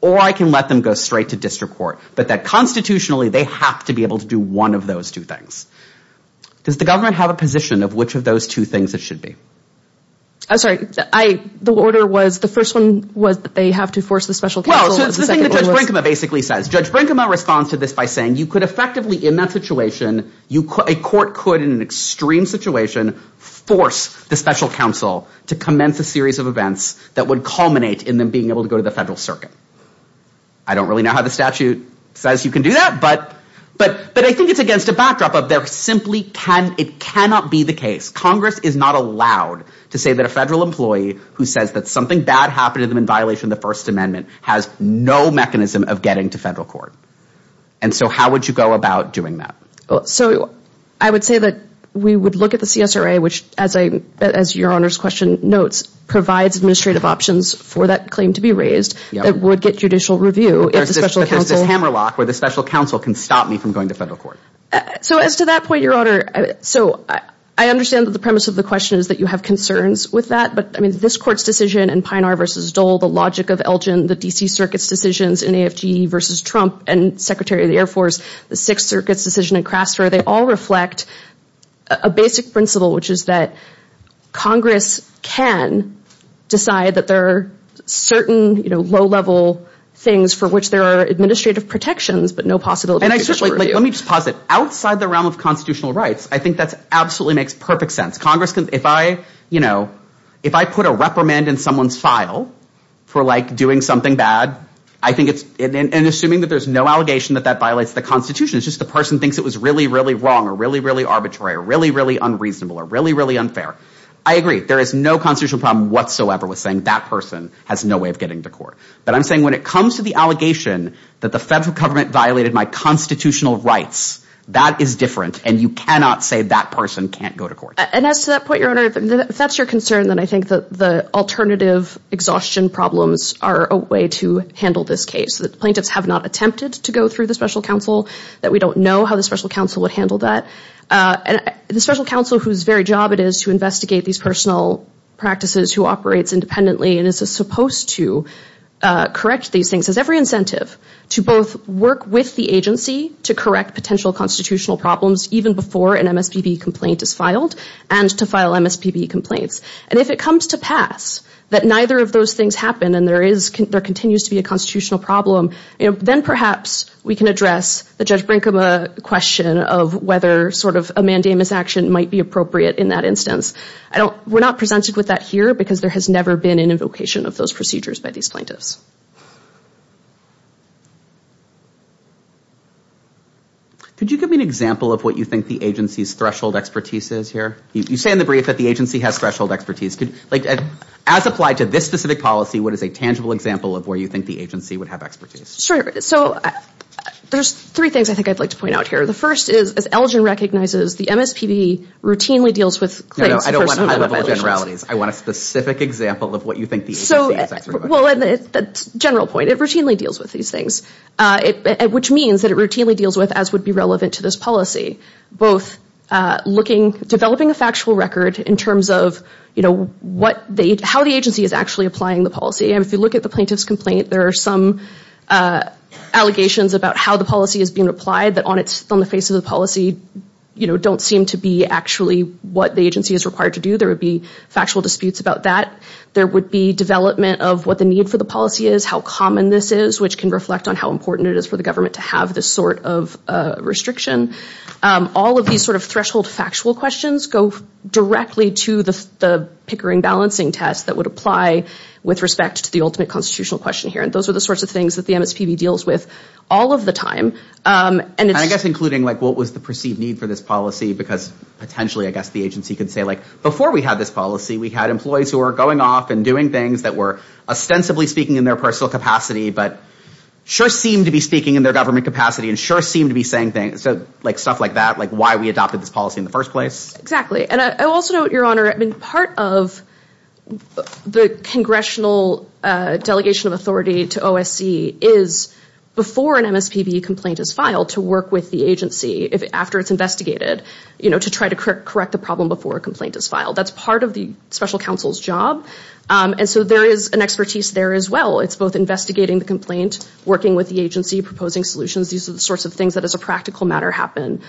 Or I can let them go straight to district court. But that constitutionally, they have to be able to do one of those two things. Does the government have a position of which of those two things it should be? I'm sorry. The order was, the first one was that they have to force the special counsel. Well, so it's the thing that Judge Brinkema basically says. Judge Brinkema responds to this by saying you could effectively, in that situation, a court could, in an extreme situation, force the special counsel to commence a series of events that would culminate in them being able to go to the federal circuit. I don't really know how the statute says you can do that, but I think it's against a backdrop of there simply cannot be the case. Congress is not allowed to say that a federal employee who says that something bad happened to them in violation of the First Amendment has no mechanism of getting to federal court. And so how would you go about doing that? So I would say that we would look at the CSRA, which, as Your Honor's question notes, provides administrative options for that claim to be raised that would get judicial review. There's this hammerlock where the special counsel can stop me from going to federal court. So as to that point, Your Honor, so I understand that the premise of the question is that you have concerns with that. But I mean, this court's decision in Pinar v. Dole, the logic of Elgin, the D.C. Circuit's decisions in AFGE v. Trump and Secretary of the Air Force, the Sixth Circuit's decision in Crastor, they all reflect a basic principle, which is that Congress can decide that there are certain low-level things for which there are administrative protections, but no possibility of judicial review. And I certainly, let me just posit, outside the realm of constitutional rights, I think that absolutely makes perfect sense. Congress can, if I, you know, if I put a reprimand in someone's file for, like, doing something bad, I think it's, and assuming that there's no allegation that that violates the Constitution, it's just the person thinks it was really, really wrong or really, really arbitrary or really, really unreasonable or really, really unfair. I agree. There is no constitutional problem whatsoever with saying that person has no way of getting to court. But I'm saying when it comes to the allegation that the federal government violated my constitutional rights, that is different, and you cannot say that person can't go to court. And as to that point, Your Honor, if that's your concern, then I think that the alternative exhaustion problems are a way to handle this case, that plaintiffs have not attempted to go through the Special Counsel, that we don't know how the Special Counsel would handle that. And the Special Counsel, whose very job it is to investigate these personal practices, who operates independently, and is supposed to correct these things, has every incentive to both work with the agency to correct potential constitutional problems, even before an MSPB complaint is filed, and to file MSPB complaints. And if it comes to pass that neither of those things happen, and there continues to be a constitutional problem, then perhaps we can address the Judge Brinkema question of whether sort of a mandamus action might be appropriate in that instance. We're not presented with that here because there has never been an invocation of those procedures by these plaintiffs. Could you give me an example of what you think the agency's threshold expertise is here? You say in the brief that the agency has threshold expertise. As applied to this specific policy, what is a tangible example of where you think the agency would have expertise? Sure. So there's three things I think I'd like to point out here. The first is, as Elgin recognizes, the MSPB routinely deals with claims of personal violations. No, no, I don't want high-level generalities. I want a specific example of what you think the agency is. Thanks very much. General point, it routinely deals with these things, which means that it routinely deals with, as would be relevant to this policy, both developing a factual record in terms of how the agency is actually applying the policy. And if you look at the plaintiff's complaint, there are some allegations about how the policy is being applied that on the face of the policy don't seem to be actually what the agency is required to do. There would be factual disputes about that. There would be development of what need for the policy is, how common this is, which can reflect on how important it is for the government to have this sort of restriction. All of these sort of threshold factual questions go directly to the Pickering balancing test that would apply with respect to the ultimate constitutional question here. And those are the sorts of things that the MSPB deals with all of the time. And it's- I guess including what was the perceived need for this policy, because potentially, I guess the agency could say, before we had this policy, we had employees who were going off and doing things that were, ostensibly speaking, in their personal capacity, but sure seem to be speaking in their government capacity and sure seem to be saying things, like stuff like that, like why we adopted this policy in the first place. Exactly. And I also note, Your Honor, I mean, part of the congressional delegation of authority to OSC is before an MSPB complaint is filed to work with the agency after it's investigated, you know, to try to correct the problem before a complaint is filed. That's part of the special counsel's job. And so there is an expertise there as well. It's both investigating the complaint, working with the agency, proposing solutions. These are the sorts of things that as a practical matter happen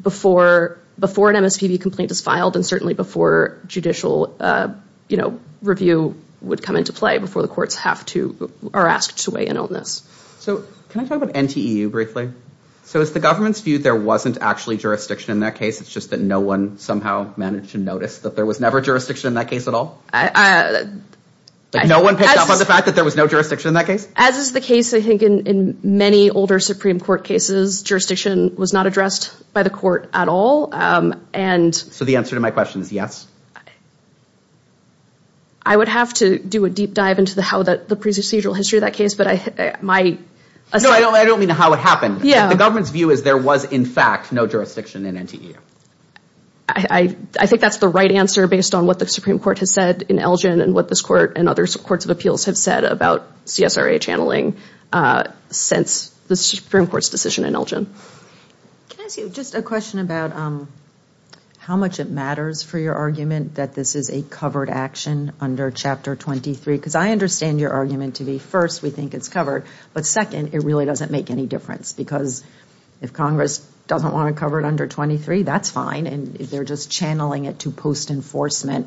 before an MSPB complaint is filed and certainly before judicial, you know, review would come into play before the courts have to- are asked to weigh in on this. So can I talk about NTEU briefly? So it's the government's view there wasn't actually jurisdiction in that case. It's just that no one somehow managed to notice that there was ever jurisdiction in that case at all? No one picked up on the fact that there was no jurisdiction in that case? As is the case, I think, in many older Supreme Court cases, jurisdiction was not addressed by the court at all. And- So the answer to my question is yes. I would have to do a deep dive into the how that the procedural history of that case, but my- No, I don't mean how it happened. Yeah. The government's view is there was, in fact, no jurisdiction in NTEU. I think that's the right answer based on what the Supreme Court has said in Elgin and what this court and other courts of appeals have said about CSRA channeling since the Supreme Court's decision in Elgin. Can I ask you just a question about how much it matters for your argument that this is a covered action under Chapter 23? Because I understand your argument to be first, we think it's covered, but second, it really doesn't make any difference because if Congress doesn't want to cover it under 23, that's fine, and they're just channeling it to post-enforcement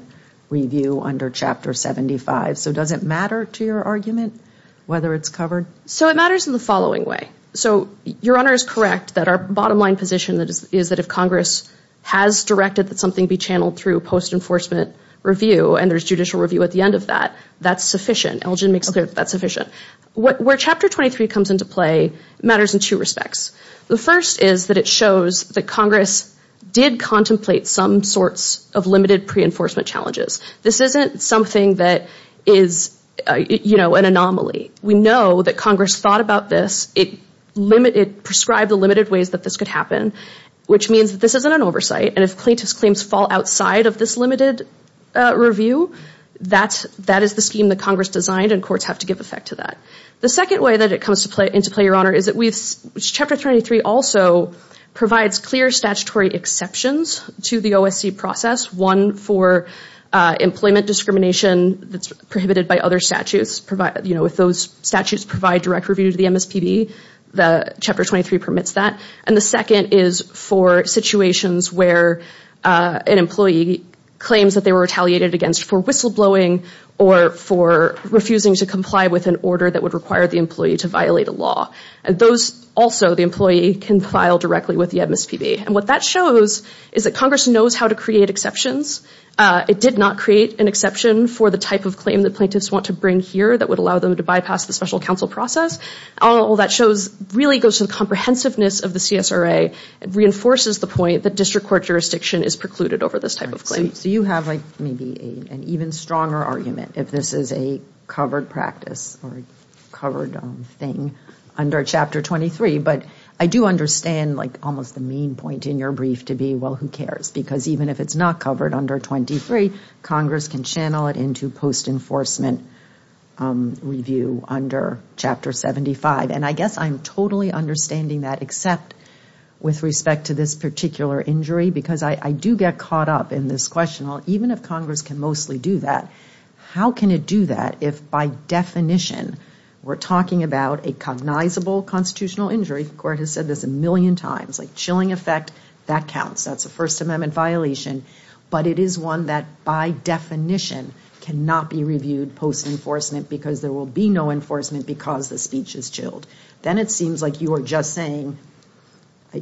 review under Chapter 75. So does it matter to your argument whether it's covered? So it matters in the following way. So your Honor is correct that our bottom line position is that if Congress has directed that something be channeled through post-enforcement review and there's judicial review at the end of that, that's sufficient. Elgin makes clear that's sufficient. Where Chapter 23 comes into play, it matters in two respects. The first is that it shows that Congress did contemplate some sorts of limited pre-enforcement challenges. This isn't something that is, you know, an anomaly. We know that Congress thought about this. It prescribed the limited ways that this could happen, which means that this isn't an oversight and if plaintiff's claims fall outside of this limited review, that is the scheme that Congress designed and courts have to give effect to that. The second way that it comes into play, your Honor, is that Chapter 23 also provides clear statutory exceptions to the OSC process. One for employment discrimination that's prohibited by other statutes. You know, if those statutes provide direct review to the MSPB, Chapter 23 permits that. And the second is for situations where an employee claims that they were retaliated against for whistleblowing or for refusing to comply with an order that would require the employee to violate a law. And those also, the employee, can file directly with the MSPB. And what that shows is that Congress knows how to create exceptions. It did not create an exception for the type of claim that plaintiffs want to bring here that would allow them to bypass the special counsel process. All that shows really goes to the comprehensiveness of the CSRA. It reinforces the point that district court jurisdiction is precluded over this type of claim. So you have like maybe an even stronger argument if this is a covered practice or covered thing under Chapter 23. But I do understand like almost the main point in your brief to be, well, who cares? Because even if it's not covered under 23, Congress can channel it into post-enforcement review under Chapter 75. And I guess I'm totally understanding that except with respect to this particular injury. Because I do get caught up in this question. Even if Congress can mostly do that, how can it do that if by definition we're talking about a cognizable constitutional injury? The court has said this a million times. Like chilling effect, that counts. That's a First Amendment violation. But it is one that by definition cannot be reviewed post-enforcement because there will be no enforcement because the speech is chilled. Then it seems like you are just saying,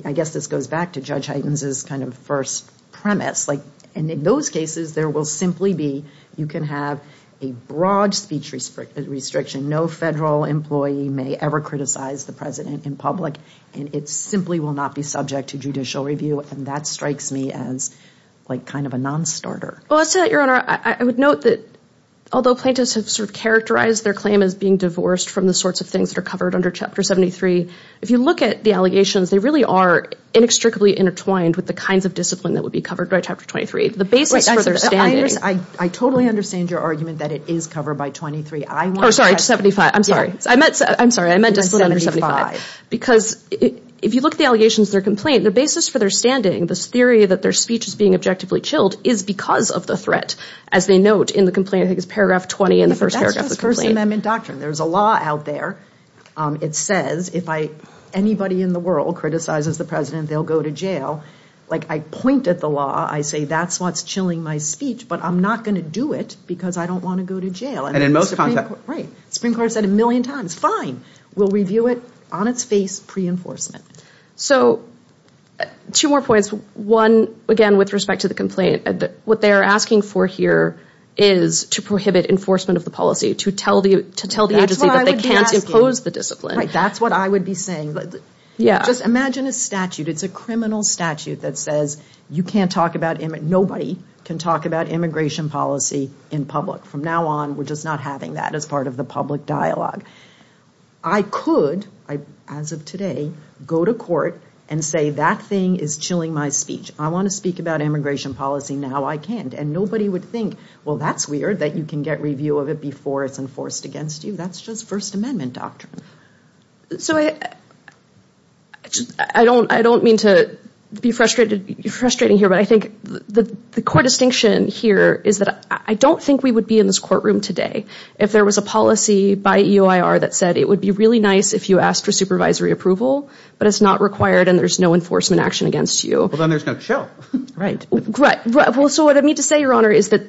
I guess this goes back to Judge Heiden's kind of first premise. Like and in those cases there will simply be, you can have a broad speech restriction. No federal employee may ever criticize the president in public. And it simply will not be subject to judicial review. And that strikes me as like kind of a non-starter. Well, I'll say that, Your Honor. I would note that although plaintiffs have sort of characterized their claim as being divorced from the sorts of things that are covered under Chapter 73, if you look at the allegations, they really are inextricably intertwined with the kinds of discipline that would be covered by Chapter 23. The basis for their standing. I totally understand your argument that it is covered by 23. Oh, sorry, 75. I'm sorry. I meant to say 75. Because if you look at the allegations of their complaint, the basis for their standing, this theory that their speech is being objectively chilled is because of the threat. As they note in the complaint, I think in the first paragraph of the complaint. That's just First Amendment doctrine. There's a law out there. It says if anybody in the world criticizes the president, they'll go to jail. Like I point at the law. I say that's what's chilling my speech. But I'm not going to do it because I don't want to go to jail. And in most contexts. Right. The Supreme Court said a million times, fine. We'll review it on its face, pre-enforcement. So two more points. One, again, with respect to the to tell the agency that they can't impose the discipline. That's what I would be saying. Just imagine a statute. It's a criminal statute that says you can't talk about, nobody can talk about immigration policy in public. From now on, we're just not having that as part of the public dialogue. I could, as of today, go to court and say that thing is chilling my speech. I want to speak about immigration policy. Now I can't. And nobody would think, well, that's weird that you can get review of it before it's enforced against you. That's just First Amendment doctrine. So I don't mean to be frustrating here, but I think the core distinction here is that I don't think we would be in this courtroom today if there was a policy by EOIR that said it would be really nice if you asked for supervisory approval, but it's not required and there's no enforcement action against you. Well, then there's no chill. Right. Right. Well, so what I mean to say, Your Honor, is that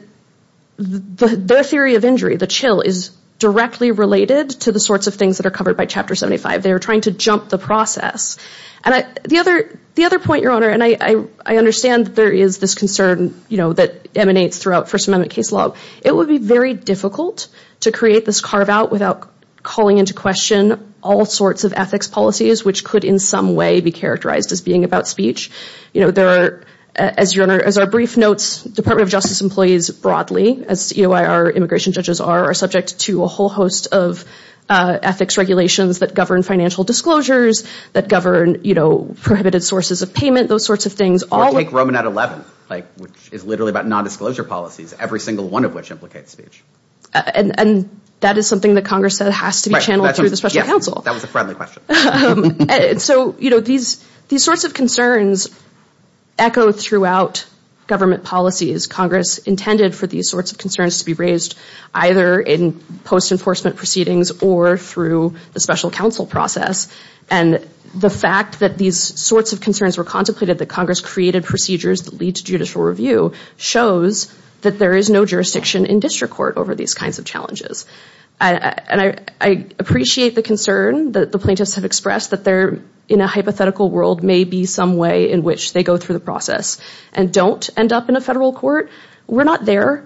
the theory of injury, the chill, is directly related to the sorts of things that are covered by Chapter 75. They are trying to jump the process. And the other point, Your Honor, and I understand there is this concern that emanates throughout First Amendment case law. It would be very difficult to create this carve out without calling into question all sorts of ethics policies which could in some way be characterized as being about speech. There are, as Your Honor, as our brief notes, Department of Justice employees broadly, as EOIR immigration judges are, are subject to a whole host of ethics regulations that govern financial disclosures, that govern prohibited sources of payment, those sorts of things. Take Roman at 11, which is literally about non-disclosure policies, every single one of which implicates speech. And that is something that Congress said has to be channeled through the special counsel. That was a friendly question. So, you know, these, these sorts of concerns echo throughout government policies. Congress intended for these sorts of concerns to be raised either in post-enforcement proceedings or through the special counsel process. And the fact that these sorts of concerns were contemplated, that Congress created procedures that lead to judicial review, shows that there is no jurisdiction in district court over these kinds of challenges. And I, I appreciate the concern that the plaintiffs have expressed that there, in a hypothetical world, may be some way in which they go through the process and don't end up in a federal court. We're not there.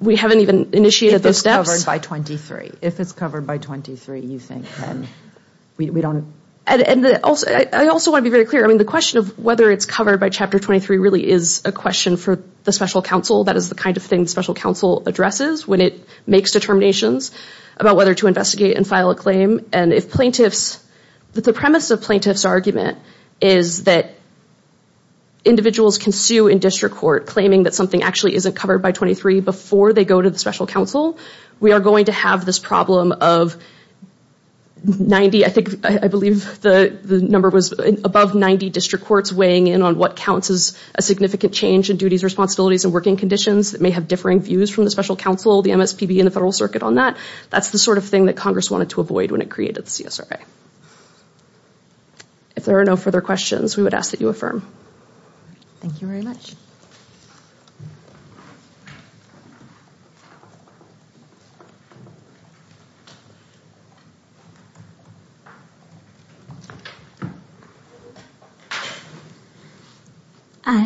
We haven't even initiated those steps. If it's covered by 23. If it's covered by 23, you think, then we don't. And, and also, I also want to be very clear. I mean, the question of whether it's covered by Chapter 23 really is a question for the special counsel. That is the kind of thing special counsel addresses when it makes determinations about whether to investigate and file a claim. And if plaintiffs, the premise of plaintiff's argument is that individuals can sue in district court claiming that something actually isn't covered by 23 before they go to the special counsel. We are going to have this problem of 90, I think, I believe the, the number was above 90 district courts weighing in on what counts as a significant change in duties, responsibilities, and working conditions that may have differing views from the special counsel, the MSPB, and the federal circuit on that. That's the sort of thing that Congress wanted to avoid when it created the CSRA. If there are no further questions, we would ask that you affirm. Thank you very much.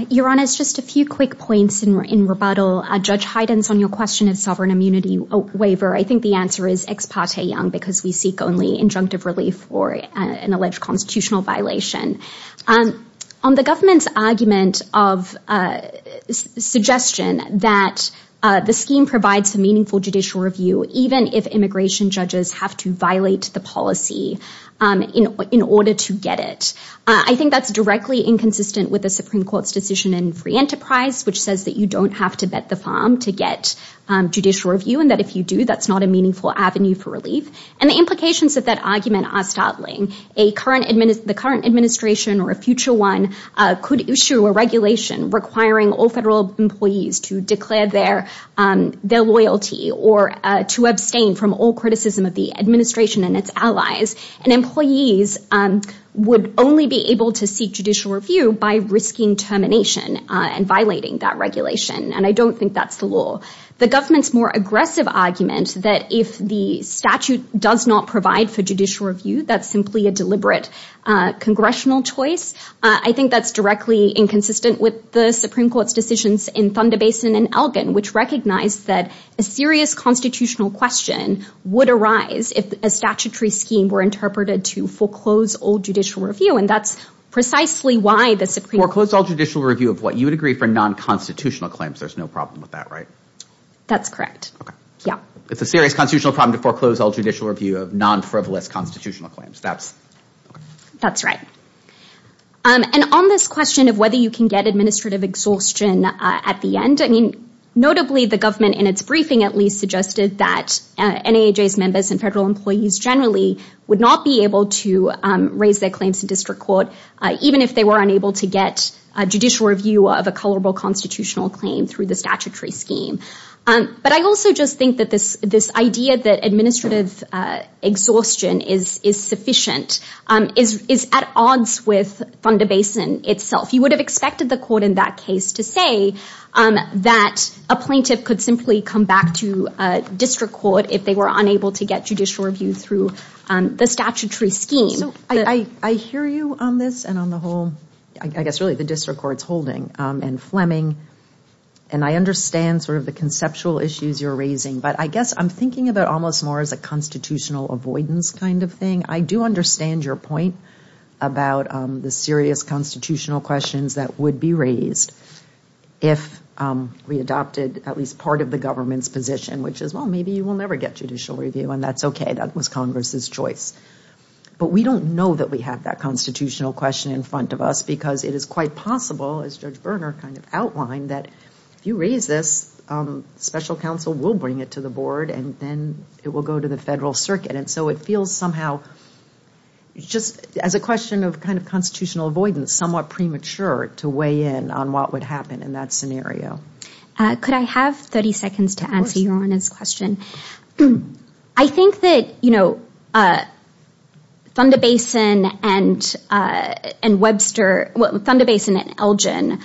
Your Honor, it's just a few quick points in, in rebuttal. Judge Hyden's on your question of sovereign immunity waiver. I think the answer is ex parte young because we seek only injunctive relief or an alleged constitutional violation. On the government's argument of, of, of, of, of, suggestion that the scheme provides a meaningful judicial review, even if immigration judges have to violate the policy in, in order to get it. I think that's directly inconsistent with the Supreme Court's decision in free enterprise, which says that you don't have to vet the farm to get judicial review, and that if you do, that's not a meaningful avenue for relief. And the implications of that argument are startling. A current, the current administration or a future one could issue a regulation requiring all federal employees to declare their, their loyalty or to abstain from all criticism of the administration and its allies. And employees would only be able to seek judicial review by risking termination and violating that regulation. And I don't think that's the law. The government's more aggressive argument that if the statute does not provide for judicial review, that's simply a deliberate congressional choice. I think that's directly inconsistent with the Supreme Court's decisions in Thunder Basin and Elgin, which recognized that a serious constitutional question would arise if a statutory scheme were interpreted to foreclose all judicial review. And that's precisely why the Supreme Court... Foreclose all judicial review of what you would agree for non-constitutional claims. There's no problem with that, right? That's correct. Okay. Yeah. It's a serious constitutional problem to foreclose all judicial review of non-frivolous constitutional claims. That's... That's right. And on this question of whether you can get administrative exhaustion at the end, I mean, notably the government in its briefing at least suggested that NAJ's members and federal employees generally would not be able to raise their claims to district court, even if they were unable to get a judicial review of a colorable constitutional claim through the statutory scheme. But I also just think that this idea that administrative exhaustion is sufficient is at odds with Thunder Basin itself. You would have expected the court in that case to say that a plaintiff could simply come back to district court if they were unable to get judicial review through the statutory scheme. So I hear you on this and on the whole, I guess really the district court's holding and Fleming, and I understand sort of the conceptual issues you're raising, but I guess I'm thinking about almost more as a constitutional avoidance kind of thing. I do understand your point about the serious constitutional questions that would be raised if we adopted at least part of the government's position, which is, well, maybe you will never get judicial review and that's okay. That was Congress's choice. But we don't know that we have that constitutional question in front of us because it is quite possible, as Judge Berner kind of outlined, that if you raise this, special counsel will bring it to the board and then it will go to the federal circuit. And so it feels somehow just as a question of kind of constitutional avoidance, somewhat premature to weigh in on what would happen in that scenario. Could I have 30 seconds to answer your question? I think that, you know, Thunder Basin and Webster, well, Thunder Basin and Elgin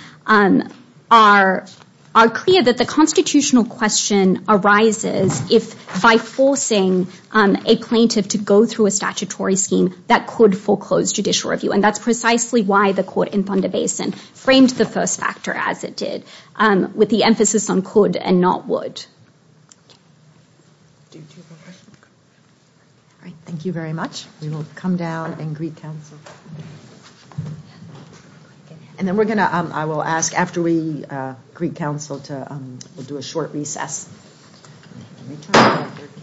are clear that the constitutional question arises if, by forcing a plaintiff to go through a statutory scheme, that could foreclose judicial review. And that's precisely why the court in Thunder Basin framed the first factor as it did, with the emphasis on could and not would. Do you have a question? All right. Thank you very much. We will come down and greet counsel. And then we're going to, I will ask after we greet counsel to, we'll do a short recess.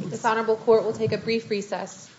This honorable court will take a brief recess.